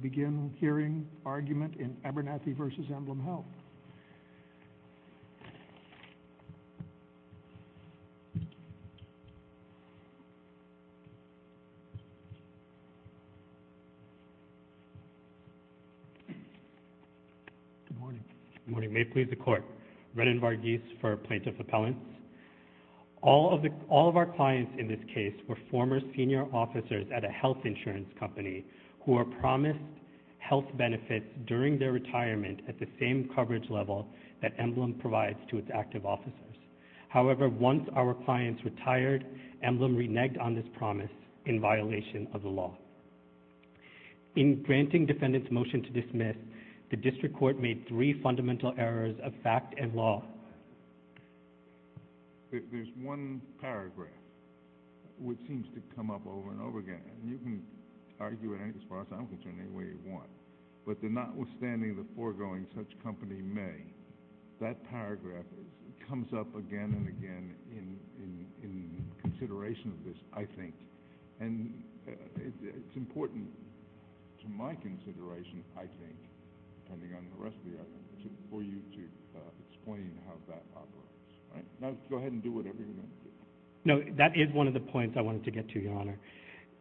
We begin hearing argument in Abernethy v. EmblemHealth. Good morning. May it please the Court. Renan Varghese for Plaintiff Appellants. All of our clients in this case were former senior officers at a health insurance company who were promised health benefits during their retirement at the same coverage level that Emblem provides to its active officers. However, once our clients retired, Emblem reneged on this promise in violation of the law. In granting defendants' motion to dismiss, the district court made three fundamental errors of fact and law. There's one paragraph which seems to come up over and over again. You can argue it as far as I'm concerned, any way you want. But notwithstanding the foregoing such company may, that paragraph comes up again and again in consideration of this, I think. And it's important to my consideration, I think, for you to explain how that operates. Now go ahead and do whatever you want to do. No, that is one of the points I wanted to get to, Your Honor.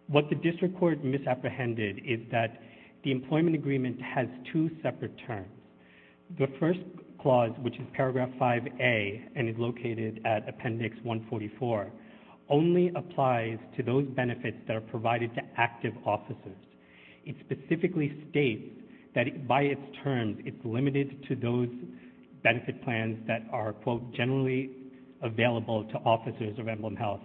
What the district court misapprehended is that the employment agreement has two separate terms. The first clause, which is paragraph 5A and is located at appendix 144, only applies to those benefits that are provided to active officers. It specifically states that by its terms, it's limited to those benefit plans that are, quote, generally available to officers of Emblem Health.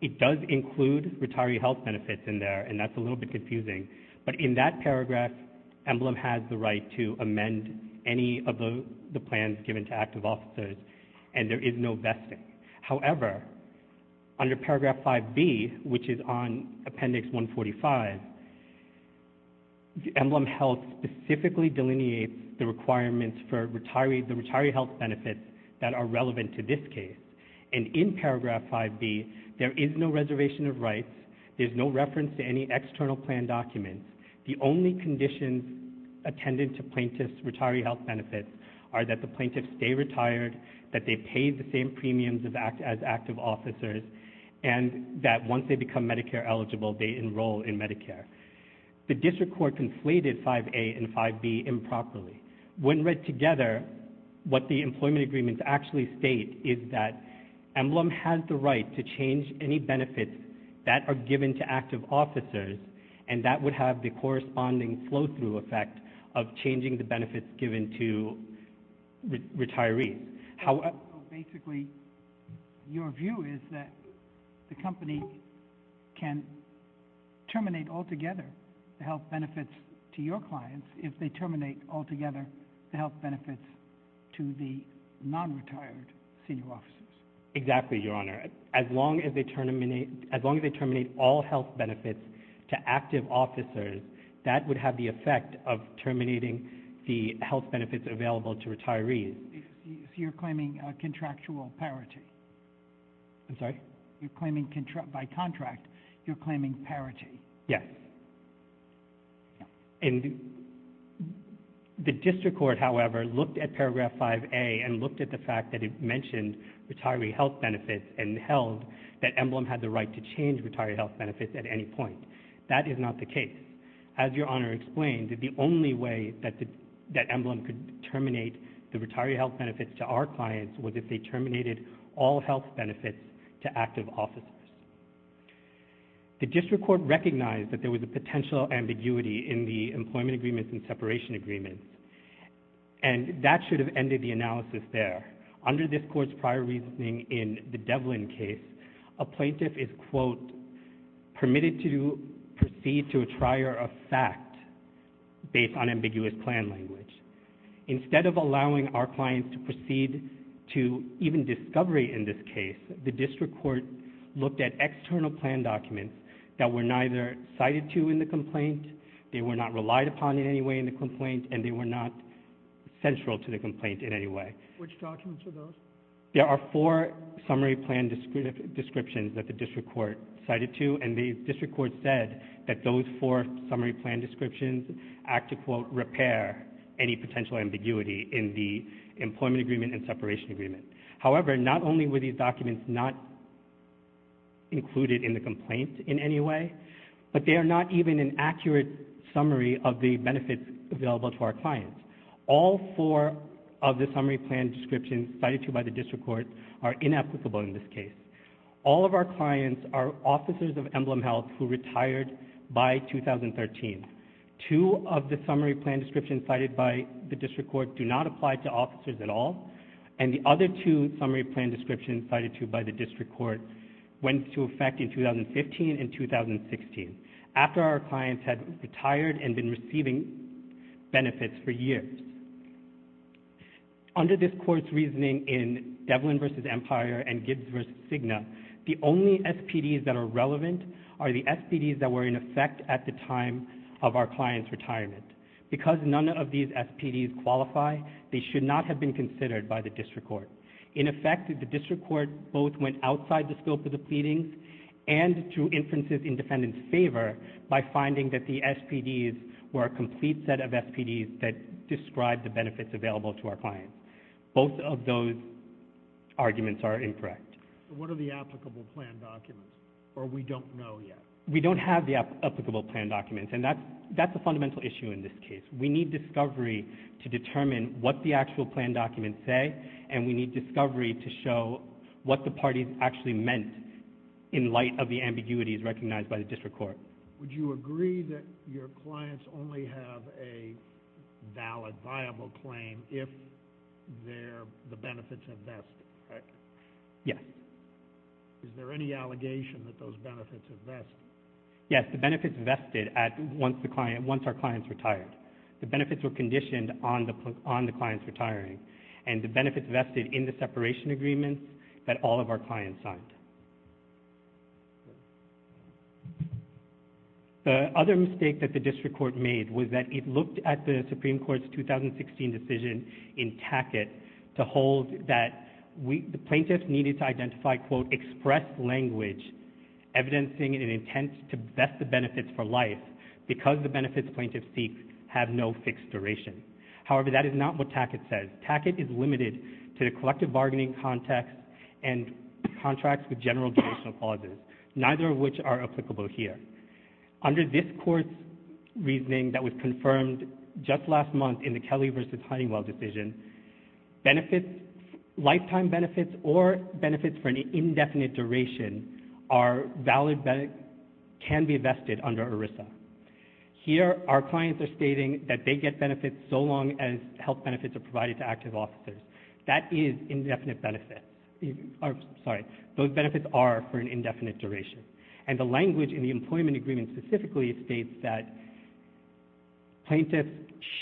It does include retiree health benefits in there, and that's a little bit confusing. But in that paragraph, Emblem has the right to amend any of the plans given to active officers, and there is no vesting. However, under paragraph 5B, which is on appendix 145, Emblem Health specifically delineates the requirements for the retiree health benefits that are relevant to this case. And in paragraph 5B, there is no reservation of rights, there's no reference to any external plan documents. The only conditions attended to plaintiff's retiree health benefits are that the plaintiff stay retired, that they pay the same premiums as active officers, and that once they become Medicare eligible, they enroll in Medicare. The district court conflated 5A and 5B improperly. When read together, what the employment agreements actually state is that Emblem has the right to change any benefits that are given to active officers, and that would have the corresponding flow-through effect of changing the benefits given to retirees. Basically, your view is that the company can terminate altogether the health benefits to your clients if they terminate altogether the health benefits to the non-retired senior officers. Exactly, Your Honor. As long as they terminate all health benefits to active officers, that would have the effect of terminating the health benefits available to retirees. You're claiming contractual parity. I'm sorry? You're claiming by contract, you're claiming parity. Yes. And the district court, however, looked at paragraph 5A and looked at the fact that it mentioned retiree health benefits and held that Emblem had the right to change retiree health benefits at any point. That is not the case. As Your Honor explained, the only way that Emblem could terminate the retiree health benefits to our clients was if they terminated all health benefits to active officers. The district court recognized that there was a potential ambiguity in the employment agreements and separation agreements, and that should have ended the analysis there. Under this court's prior reasoning in the Devlin case, a plaintiff is, quote, permitted to proceed to a trier of fact based on ambiguous plan language. Instead of allowing our clients to proceed to even discovery in this case, the district court looked at external plan documents that were neither cited to in the complaint, they were not relied upon in any way in the complaint, and they were not central to the complaint in any way. Which documents are those? There are four summary plan descriptions that the district court cited to, and the district court said that those four summary plan descriptions act to, quote, repair any potential ambiguity in the employment agreement and separation agreement. However, not only were these documents not included in the complaint in any way, but they are not even an accurate summary of the benefits available to our clients. All four of the summary plan descriptions cited to by the district court are inapplicable in this case. All of our clients are officers of emblem health who retired by 2013. Two of the summary plan descriptions cited by the district court do not apply to officers at all, and the other two summary plan descriptions cited to by the district court went into effect in 2015 and 2016, after our clients had retired and been receiving benefits for years. Under this court's reasoning in Devlin v. Empire and Gibbs v. Cigna, the only SPDs that are relevant are the SPDs that were in effect at the time of our client's retirement. Because none of these SPDs qualify, they should not have been considered by the district court. In effect, the district court both went outside the scope of the pleadings and drew inferences in defendant's favor by finding that the SPDs were a complete set of SPDs that described the benefits available to our clients. Both of those arguments are incorrect. What are the applicable plan documents, or we don't know yet? We don't have the applicable plan documents, and that's a fundamental issue in this case. We need discovery to determine what the actual plan documents say, and we need discovery to show what the parties actually meant in light of the ambiguities recognized by the district court. Would you agree that your clients only have a valid, viable claim if the benefits have vested? Yes. Is there any allegation that those benefits have vested? Yes, the benefits vested once our clients retired. The benefits were conditioned on the clients retiring, and the benefits vested in the separation agreements that all of our clients signed. The other mistake that the district court made was that it looked at the Supreme Court's 2016 decision in Tackett to hold that the plaintiffs needed to identify, quote, expressed language evidencing an intent to vest the benefits for life because the benefits plaintiffs seek have no fixed duration. However, that is not what Tackett says. Tackett is limited to the collective bargaining context and contracts with general judicial clauses, neither of which are applicable here. Under this court's reasoning that was confirmed just last month in the Kelly v. Huntingwell decision, lifetime benefits or benefits for an indefinite duration can be vested under ERISA. Here, our clients are stating that they get benefits so long as health benefits are provided to active officers. That is indefinite benefits. Sorry, those benefits are for an indefinite duration. And the language in the employment agreement specifically states that plaintiffs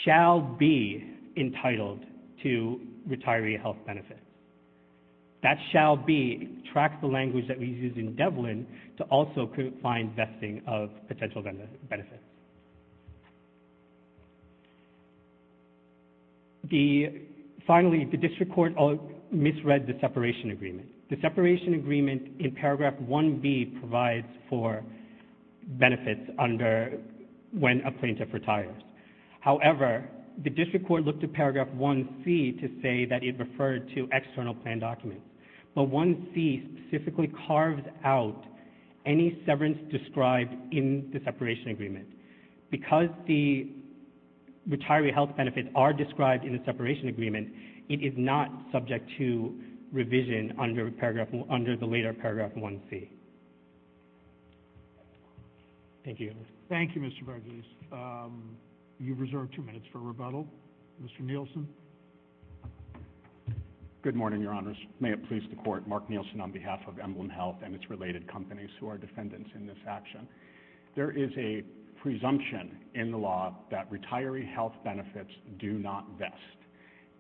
shall be entitled to retiree health benefits. That shall be tracks the language that we use in Devlin to also find vesting of potential benefits. Finally, the district court misread the separation agreement. The separation agreement in paragraph 1B provides for benefits when a plaintiff retires. However, the district court looked at paragraph 1C to say that it referred to external plan documents. But 1C specifically carves out any severance described in the separation agreement. Because the retiree health benefits are described in the separation agreement, it is not subject to revision under the later paragraph 1C. Thank you. Thank you, Mr. Vergeles. You've reserved two minutes for rebuttal. Mr. Nielsen. Good morning, Your Honors. May it please the Court. Mark Nielsen on behalf of Emblem Health and its related companies who are defendants in this action. There is a presumption in the law that retiree health benefits do not vest.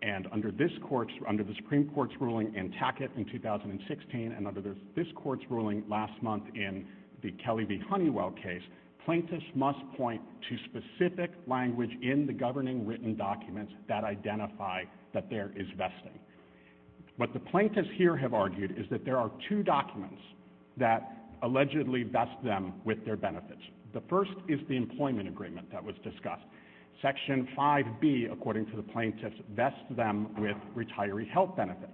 And under the Supreme Court's ruling in Tackett in 2016 and under this Court's ruling last month in the Kelly v. Honeywell case, plaintiffs must point to specific language in the governing written documents that identify that there is vesting. What the plaintiffs here have argued is that there are two documents that allegedly vest them with their benefits. The first is the employment agreement that was discussed. Section 5B, according to the plaintiffs, vests them with retiree health benefits.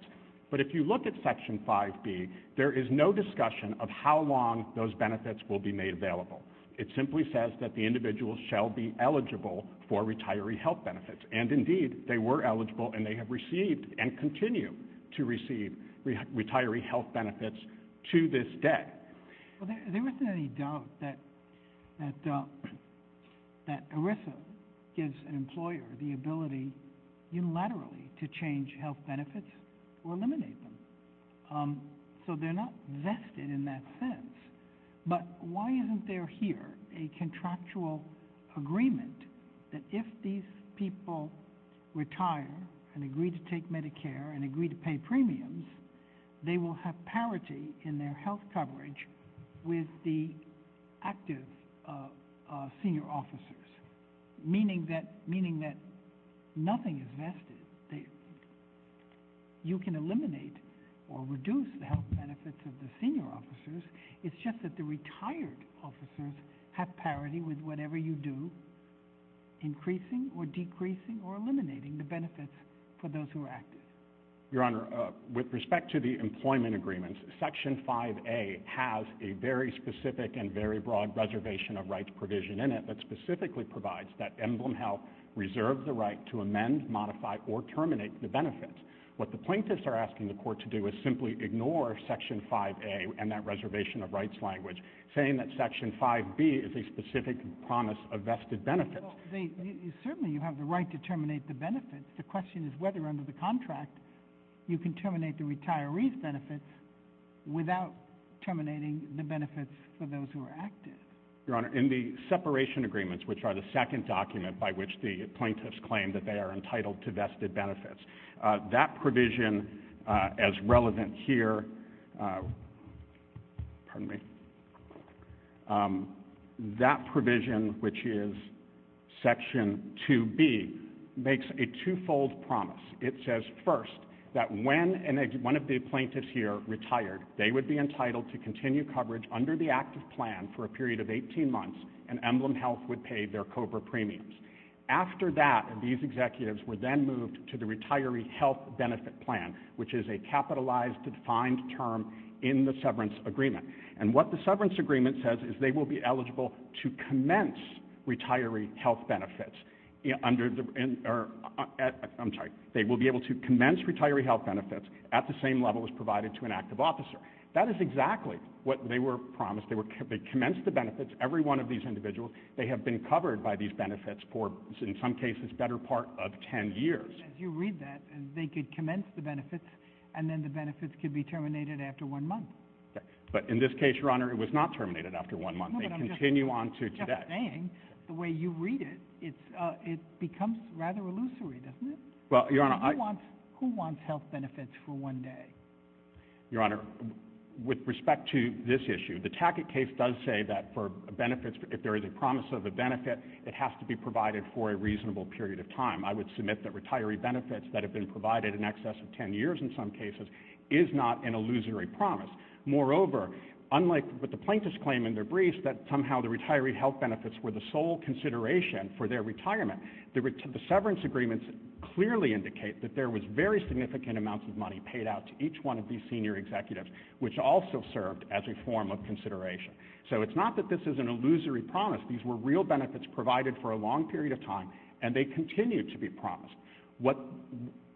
But if you look at Section 5B, there is no discussion of how long those benefits will be made available. It simply says that the individual shall be eligible for retiree health benefits. And indeed, they were eligible and they have received and continue to receive retiree health benefits to this day. There isn't any doubt that ERISA gives an employer the ability unilaterally to change health benefits or eliminate them. So they're not vested in that sense. But why isn't there here a contractual agreement that if these people retire and agree to take Medicare and agree to pay premiums, they will have parity in their health coverage with the active senior officers, meaning that nothing is vested. You can eliminate or reduce the health benefits of the senior officers. It's just that the retired officers have parity with whatever you do, increasing or decreasing or eliminating the benefits for those who are active. Your Honor, with respect to the employment agreements, Section 5A has a very specific and very broad reservation of rights provision in it that specifically provides that emblem health reserve the right to amend, modify, or terminate the benefits. What the plaintiffs are asking the court to do is simply ignore Section 5A and that reservation of rights language, saying that Section 5B is a specific promise of vested benefits. Certainly you have the right to terminate the benefits. The question is whether under the contract you can terminate the retiree's benefits without terminating the benefits for those who are active. Your Honor, in the separation agreements, which are the second document by which the plaintiffs claim that they are entitled to vested benefits, that provision, which is Section 2B, makes a twofold promise. It says, first, that when one of the plaintiffs here retired, they would be entitled to continue coverage under the active plan for a period of 18 months and emblem health would pay their COBRA premiums. After that, these executives were then moved to the retiree health benefit plan, which is a capitalized, defined term in the severance agreement. What the severance agreement says is they will be eligible to commence retiree health benefits. They will be able to commence retiree health benefits at the same level as provided to an active officer. That is exactly what they were promised. They commenced the benefits, every one of these individuals. They have been covered by these benefits for, in some cases, better part of 10 years. As you read that, they could commence the benefits and then the benefits could be terminated after one month. But in this case, Your Honor, it was not terminated after one month. They continue on to today. The way you read it, it becomes rather illusory, doesn't it? Who wants health benefits for one day? Your Honor, with respect to this issue, the Tackett case does say that for benefits, if there is a promise of a benefit, it has to be provided for a reasonable period of time. I would submit that retiree benefits that have been provided in excess of 10 years in some cases is not an illusory promise. Moreover, unlike what the plaintiffs claim in their briefs, that somehow the retiree health benefits were the sole consideration for their retirement, the severance agreements clearly indicate that there was very significant amounts of money paid out to each one of these senior executives, which also served as a form of consideration. So it's not that this is an illusory promise. These were real benefits provided for a long period of time, and they continue to be promised.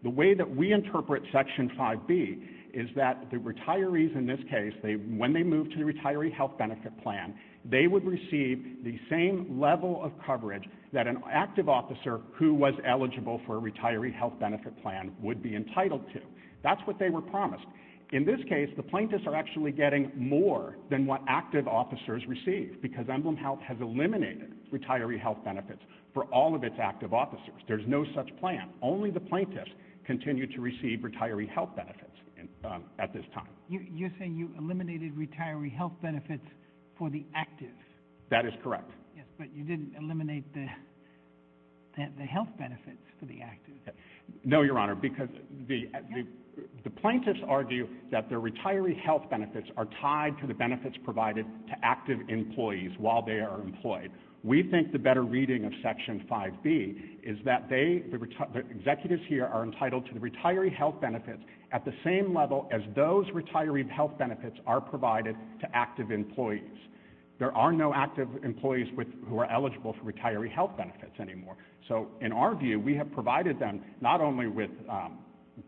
The way that we interpret Section 5B is that the retirees in this case, when they move to the retiree health benefit plan, they would receive the same level of coverage that an active officer who was eligible for a retiree health benefit plan would be entitled to. That's what they were promised. In this case, the plaintiffs are actually getting more than what active officers receive because Emblem Health has eliminated retiree health benefits for all of its active officers. There's no such plan. Only the plaintiffs continue to receive retiree health benefits at this time. You're saying you eliminated retiree health benefits for the active. That is correct. Yes, but you didn't eliminate the health benefits for the active. No, Your Honor, because the plaintiffs argue that the retiree health benefits are tied to the benefits provided to active employees while they are employed. We think the better reading of Section 5B is that they, the executives here, are entitled to the retiree health benefits at the same level as those retiree health benefits are provided to active employees. There are no active employees who are eligible for retiree health benefits anymore. So in our view, we have provided them not only with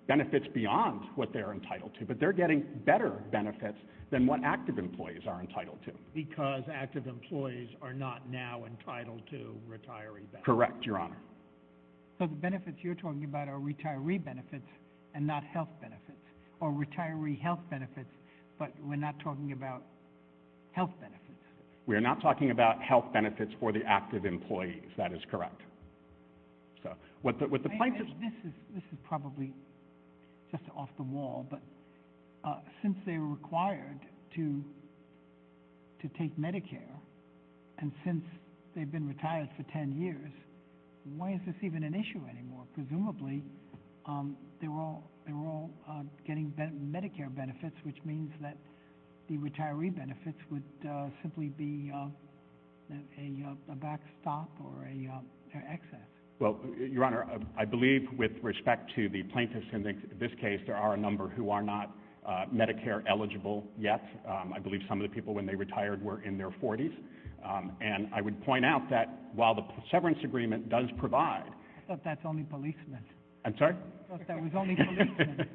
benefits beyond what they're entitled to, but they're getting better benefits than what active employees are entitled to. Because active employees are not now entitled to retiree benefits. Correct, Your Honor. So the benefits you're talking about are retiree benefits and not health benefits, or retiree health benefits, but we're not talking about health benefits. We are not talking about health benefits for the active employees. That is correct. This is probably just off the wall, but since they were required to take Medicare and since they've been retired for 10 years, why is this even an issue anymore? Presumably they were all getting Medicare benefits, which means that the retiree benefits would simply be a backstop or an excess. Well, Your Honor, I believe with respect to the plaintiffs in this case, there are a number who are not Medicare eligible yet. I believe some of the people when they retired were in their 40s. And I would point out that while the severance agreement does provide. I thought that's only policemen. I'm sorry? I thought that was only policemen.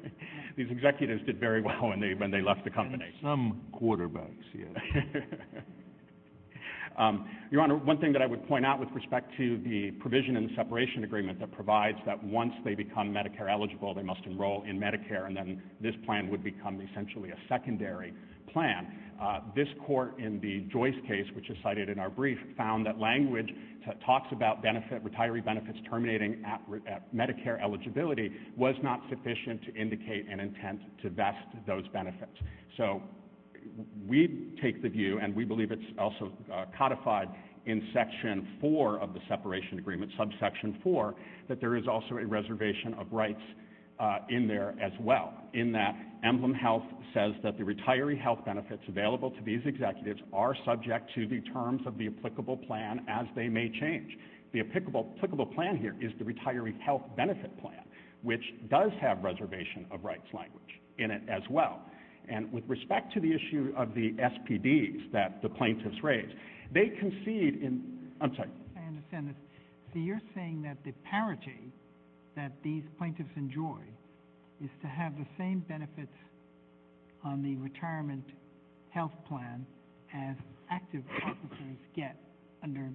These executives did very well when they left the company. Some quarterbacks, yes. Your Honor, one thing that I would point out with respect to the provision in the separation agreement that provides that once they become Medicare eligible, they must enroll in Medicare, and then this plan would become essentially a secondary plan. This court in the Joyce case, which is cited in our brief, found that language that talks about retiree benefits terminating at Medicare eligibility was not sufficient to indicate an intent to vest those benefits. So we take the view, and we believe it's also codified in Section 4 of the separation agreement, subsection 4, that there is also a reservation of rights in there as well, in that Emblem Health says that the retiree health benefits available to these executives are subject to the terms of the applicable plan as they may change. The applicable plan here is the retiree health benefit plan, which does have reservation of rights language in it as well. And with respect to the issue of the SPDs that the plaintiffs raised, they concede in the I'm sorry? I understand this. So you're saying that the parity that these plaintiffs enjoy is to have the same benefits on the retirement health plan as active officers get under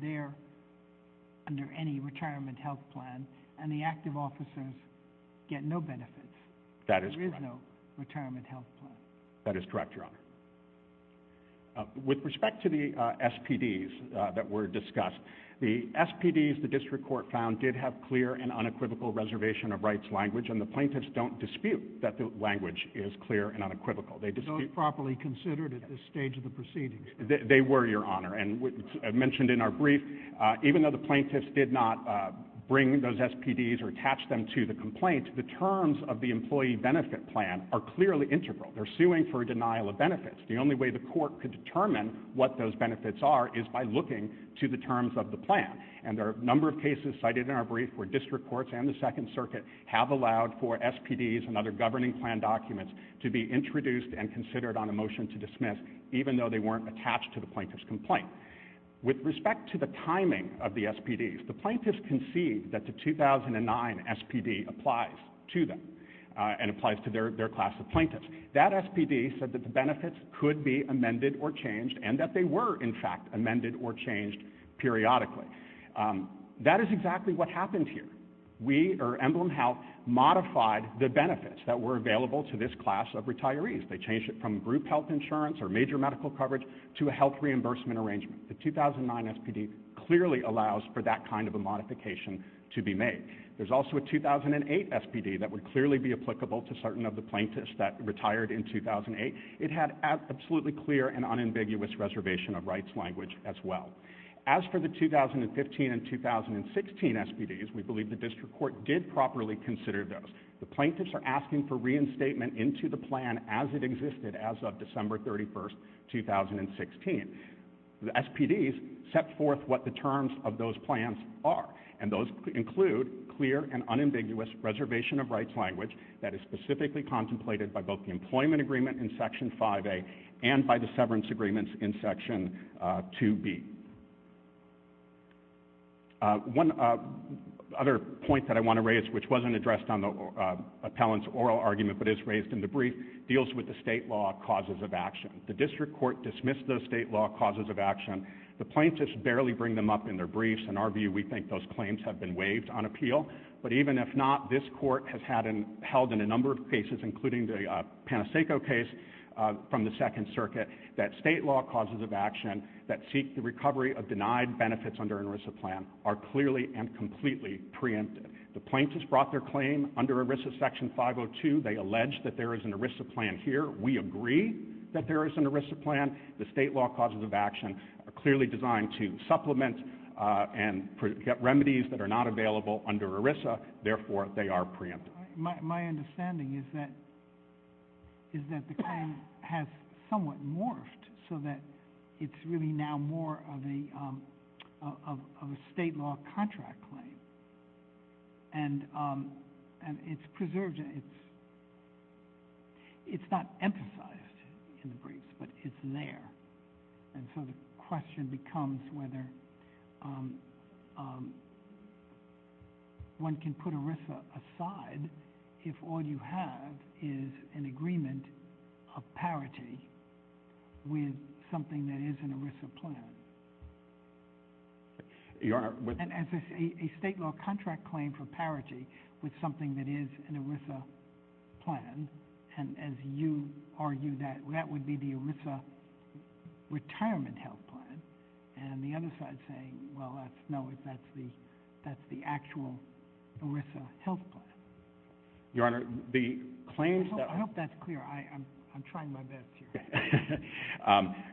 any retirement health plan, and the active officers get no benefits. That is correct. There is no retirement health plan. That is correct, Your Honor. With respect to the SPDs that were discussed, the SPDs the district court found did have clear and unequivocal reservation of rights language, and the plaintiffs don't dispute that the language is clear and unequivocal. Those properly considered at this stage of the proceedings? They were, Your Honor. And as mentioned in our brief, even though the plaintiffs did not bring those SPDs or attach them to the complaint, the terms of the employee benefit plan are clearly integral. They're suing for a denial of benefits. The only way the court could determine what those benefits are is by looking to the terms of the plan. And there are a number of cases cited in our brief where district courts and the Second Circuit have allowed for SPDs and other governing plan documents to be introduced and considered on a motion to dismiss, even though they weren't attached to the plaintiff's complaint. With respect to the timing of the SPDs, the plaintiffs conceived that the 2009 SPD applies to them and applies to their class of plaintiffs. That SPD said that the benefits could be amended or changed and that they were, in fact, amended or changed periodically. That is exactly what happened here. We, or Emblem Health, modified the benefits that were available to this class of retirees. They changed it from group health insurance or major medical coverage to a health reimbursement arrangement. The 2009 SPD clearly allows for that kind of a modification to be made. There's also a 2008 SPD that would clearly be applicable to certain of the plaintiffs that retired in 2008. It had absolutely clear and unambiguous reservation of rights language as well. As for the 2015 and 2016 SPDs, we believe the district court did properly consider those. The plaintiffs are asking for reinstatement into the plan as it existed as of December 31, 2016. The SPDs set forth what the terms of those plans are, and those include clear and unambiguous reservation of rights language that is specifically contemplated by both the employment agreement in Section 5A and by the severance agreements in Section 2B. One other point that I want to raise, which wasn't addressed on the appellant's oral argument but is raised in the brief, deals with the state law causes of action. The district court dismissed those state law causes of action. The plaintiffs barely bring them up in their briefs. In our view, we think those claims have been waived on appeal. But even if not, this court has held in a number of cases, including the Panacea case from the Second Circuit, that state law causes of action that seek the recovery of denied benefits under an ERISA plan are clearly and completely preempted. The plaintiffs brought their claim under ERISA Section 502. They allege that there is an ERISA plan here. We agree that there is an ERISA plan. The state law causes of action are clearly designed to supplement and get remedies that are not available under ERISA. Therefore, they are preempted. My understanding is that the claim has somewhat morphed so that it's really now more of a state law contract claim. And it's preserved. It's not emphasized in the briefs, but it's there. And so the question becomes whether one can put ERISA aside if all you have is an agreement of parity with something that is an ERISA plan. And as a state law contract claim for parity with something that is an ERISA plan, and as you argue that that would be the ERISA retirement health plan, and the other side saying, well, no, that's the actual ERISA health plan. Your Honor, the claims that— I hope that's clear. I'm trying my best here.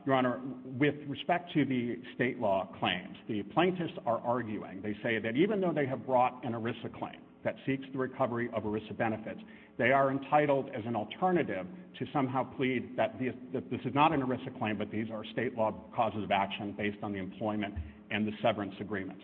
Your Honor, with respect to the state law claims, the plaintiffs are arguing. They say that even though they have brought an ERISA claim that seeks the recovery of ERISA benefits, they are entitled as an alternative to somehow plead that this is not an ERISA claim, but these are state law causes of action based on the employment and the severance agreements.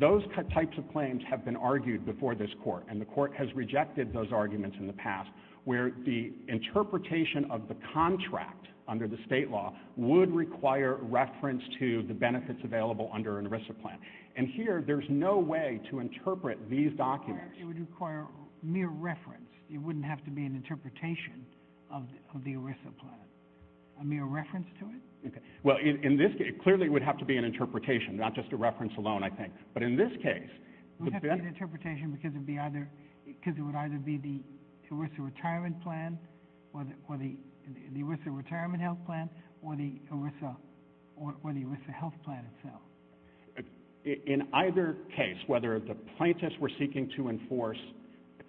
Those types of claims have been argued before this Court, and the Court has rejected those arguments in the past where the interpretation of the contract under the state law would require reference to the benefits available under an ERISA plan. And here, there's no way to interpret these documents. Your Honor, it would require mere reference. It wouldn't have to be an interpretation of the ERISA plan. A mere reference to it? Well, in this case, clearly it would have to be an interpretation, not just a reference alone, I think. It would have to be an interpretation because it would either be the ERISA retirement health plan or the ERISA health plan itself. In either case, whether the plaintiffs were seeking to enforce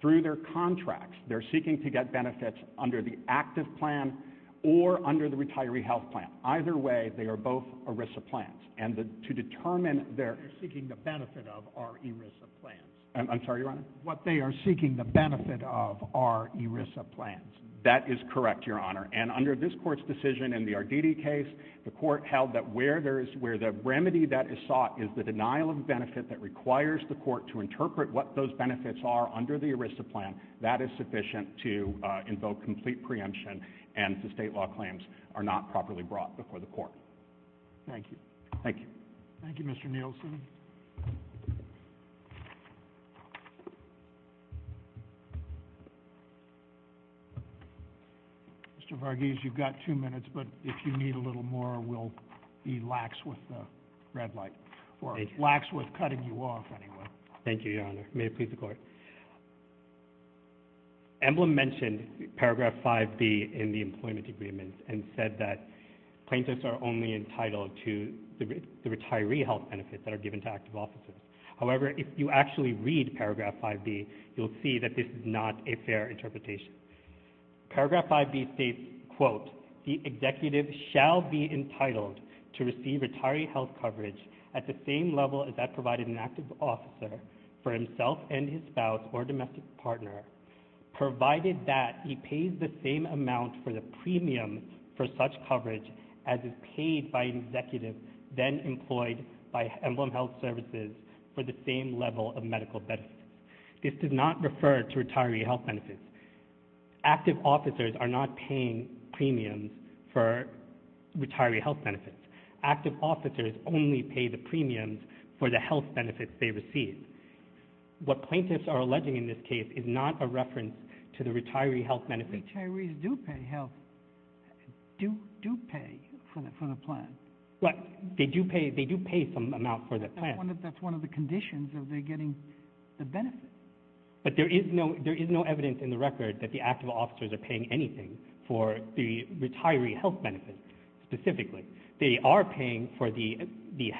through their contracts, they're seeking to get benefits under the active plan or under the retiree health plan. Either way, they are both ERISA plans. They're seeking the benefit of our ERISA plans. I'm sorry, Your Honor? They are seeking the benefit of our ERISA plans. That is correct, Your Honor. And under this Court's decision in the Arditi case, the Court held that where the remedy that is sought is the denial of benefit that requires the Court to interpret what those benefits are under the ERISA plan, that is sufficient to invoke complete preemption, and the state law claims are not properly brought before the Court. Thank you. Thank you. Thank you, Mr. Nielsen. Mr. Varghese, you've got two minutes, but if you need a little more, we'll be lax with the red light, or lax with cutting you off, anyway. May it please the Court. Emblem mentioned paragraph 5B in the employment agreements and said that plaintiffs are only entitled to the retiree health benefits that are given to active officers. However, if you actually read paragraph 5B, you'll see that this is not a fair interpretation. Paragraph 5B states, quote, the executive shall be entitled to receive retiree health coverage at the same level as that provided an active officer for himself and his spouse or domestic partner, provided that he pays the same amount for the premium for such coverage as is paid by an executive then employed by Emblem Health Services for the same level of medical benefits. This does not refer to retiree health benefits. Active officers are not paying premiums for retiree health benefits. Active officers only pay the premiums for the health benefits they receive. What plaintiffs are alleging in this case is not a reference to the retiree health benefits. Retirees do pay health, do pay for the plan. Well, they do pay some amount for the plan. That's one of the conditions of their getting the benefits. But there is no evidence in the record that the active officers are paying anything for the retiree health benefits specifically. They are paying for the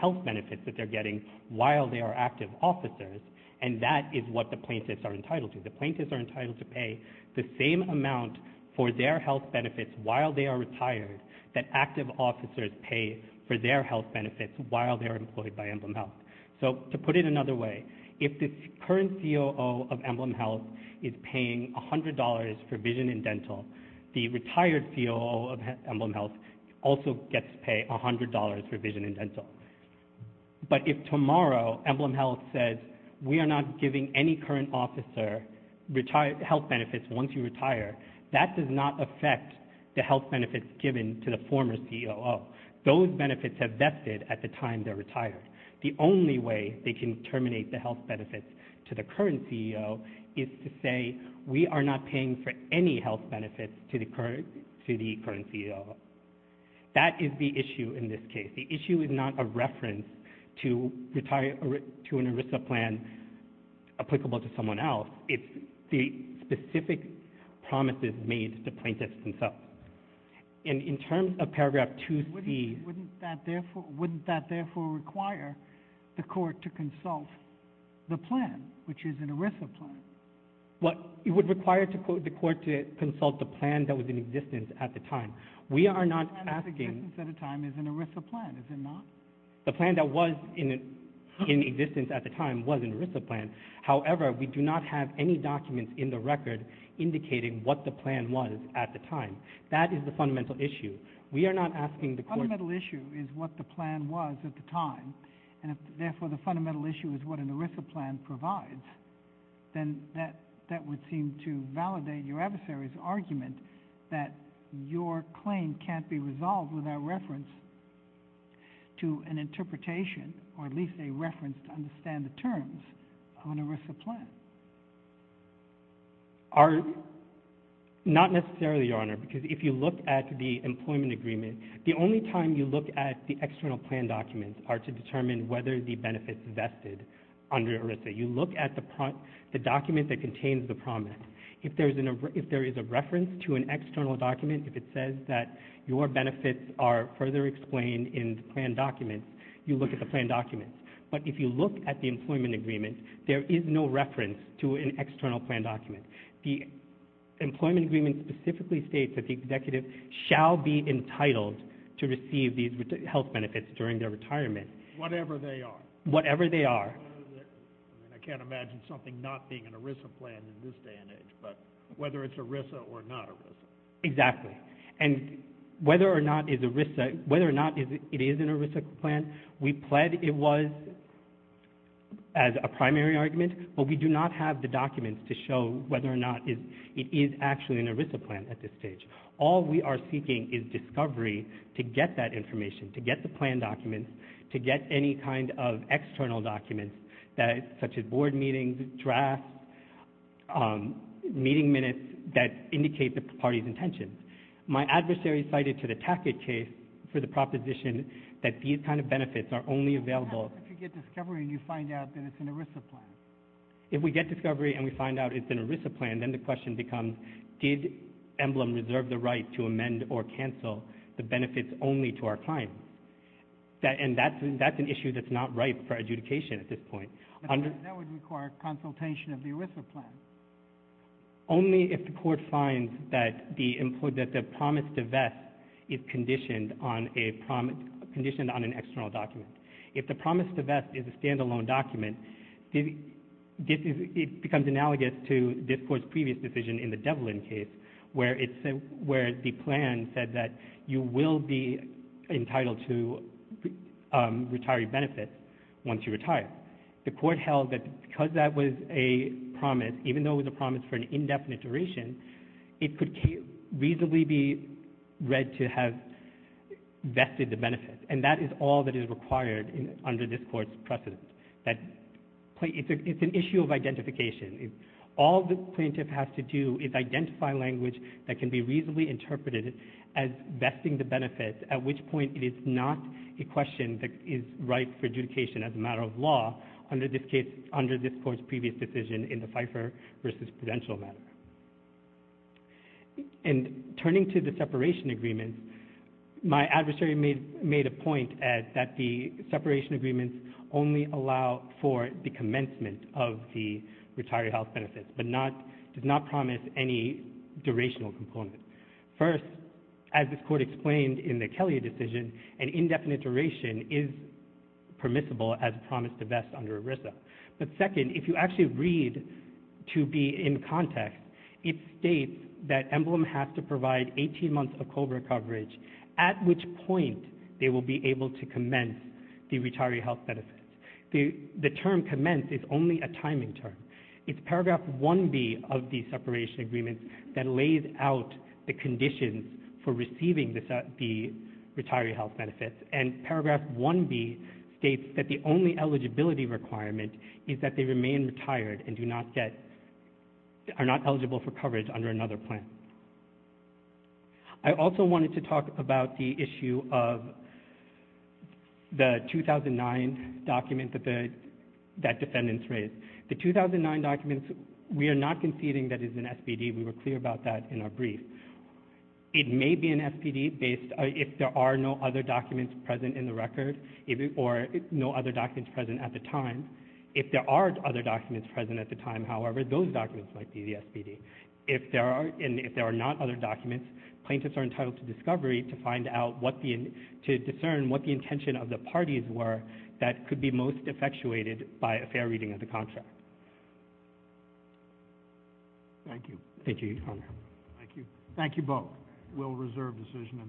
health benefits that they're getting while they are active officers, and that is what the plaintiffs are entitled to. The plaintiffs are entitled to pay the same amount for their health benefits while they are retired that active officers pay for their health benefits while they're employed by Emblem Health. So to put it another way, if the current COO of Emblem Health is paying $100 for vision and dental, the retired COO of Emblem Health also gets to pay $100 for vision and dental. But if tomorrow Emblem Health says we are not giving any current officer health benefits once you retire, that does not affect the health benefits given to the former COO. Those benefits have vested at the time they're retired. The only way they can terminate the health benefits to the current COO is to say we are not paying for any health benefits to the current COO. That is the issue in this case. The issue is not a reference to an ERISA plan applicable to someone else. It's the specific promises made to the plaintiffs themselves. In terms of paragraph 2C... Wouldn't that therefore require the court to consult the plan, which is an ERISA plan? It would require the court to consult the plan that was in existence at the time. The plan that was in existence at the time is an ERISA plan, is it not? The plan that was in existence at the time was an ERISA plan. However, we do not have any documents in the record indicating what the plan was at the time. That is the fundamental issue. The fundamental issue is what the plan was at the time, and therefore the fundamental issue is what an ERISA plan provides. Then that would seem to validate your adversary's argument that your claim can't be resolved without reference to an interpretation or at least a reference to understand the terms on an ERISA plan. Not necessarily, Your Honor, because if you look at the employment agreement, the only time you look at the external plan documents are to determine whether the benefits vested under ERISA. You look at the document that contains the promise. If there is a reference to an external document, if it says that your benefits are further explained in the plan documents, you look at the plan documents. But if you look at the employment agreement, there is no reference to an external plan document. The employment agreement specifically states that the executive shall be entitled to receive these health benefits during their retirement. Whatever they are. Whatever they are. I can't imagine something not being an ERISA plan in this day and age, but whether it's ERISA or not ERISA. Exactly. And whether or not it is an ERISA plan, we pled it was as a primary argument, but we do not have the documents to show whether or not it is actually an ERISA plan at this stage. All we are seeking is discovery to get that information, to get the plan documents, to get any kind of external documents such as board meetings, drafts, meeting minutes that indicate the party's intentions. My adversary cited to the Tackett case for the proposition that these kind of benefits are only available. What happens if you get discovery and you find out that it's an ERISA plan? If we get discovery and we find out it's an ERISA plan, then the question becomes, did Emblem reserve the right to amend or cancel the benefits only to our client? And that's an issue that's not ripe for adjudication at this point. That would require consultation of the ERISA plan. Only if the court finds that the promise divest is conditioned on an external document. If the promise divest is a standalone document, it becomes analogous to this court's previous decision in the Devlin case where the plan said that you will be entitled to retiree benefits once you retire. The court held that because that was a promise, even though it was a promise for an indefinite duration, it could reasonably be read to have vested the benefits. And that is all that is required under this court's precedent. It's an issue of identification. All the plaintiff has to do is identify language that can be reasonably interpreted as vesting the benefits, at which point it is not a question that is ripe for adjudication as a matter of law under this court's previous decision in the Pfeiffer v. Prudential matter. And turning to the separation agreements, my adversary made a point that the separation agreements only allow for the commencement of the retiree health benefits, but does not promise any durational component. First, as this court explained in the Kelly decision, an indefinite duration is permissible as a promise divest under ERISA. But second, if you actually read to be in context, it states that EMBLM has to provide 18 months of COBRA coverage, at which point they will be able to commence the retiree health benefits. The term commence is only a timing term. It's paragraph 1B of the separation agreements that lays out the conditions for receiving the retiree health benefits, and paragraph 1B states that the only eligibility requirement is that they remain retired and are not eligible for coverage under another plan. I also wanted to talk about the issue of the 2009 document that defendants raised. The 2009 document, we are not conceding that it is an SPD. We were clear about that in our brief. It may be an SPD if there are no other documents present in the record, or no other documents present at the time. If there are other documents present at the time, however, those documents might be the SPD. If there are not other documents, plaintiffs are entitled to discovery to discern what the intention of the parties were that could be most effectuated by a fair reading of the contract. Thank you. Thank you, Your Honor. Thank you. Thank you both. We'll reserve decision in this case. Thank you.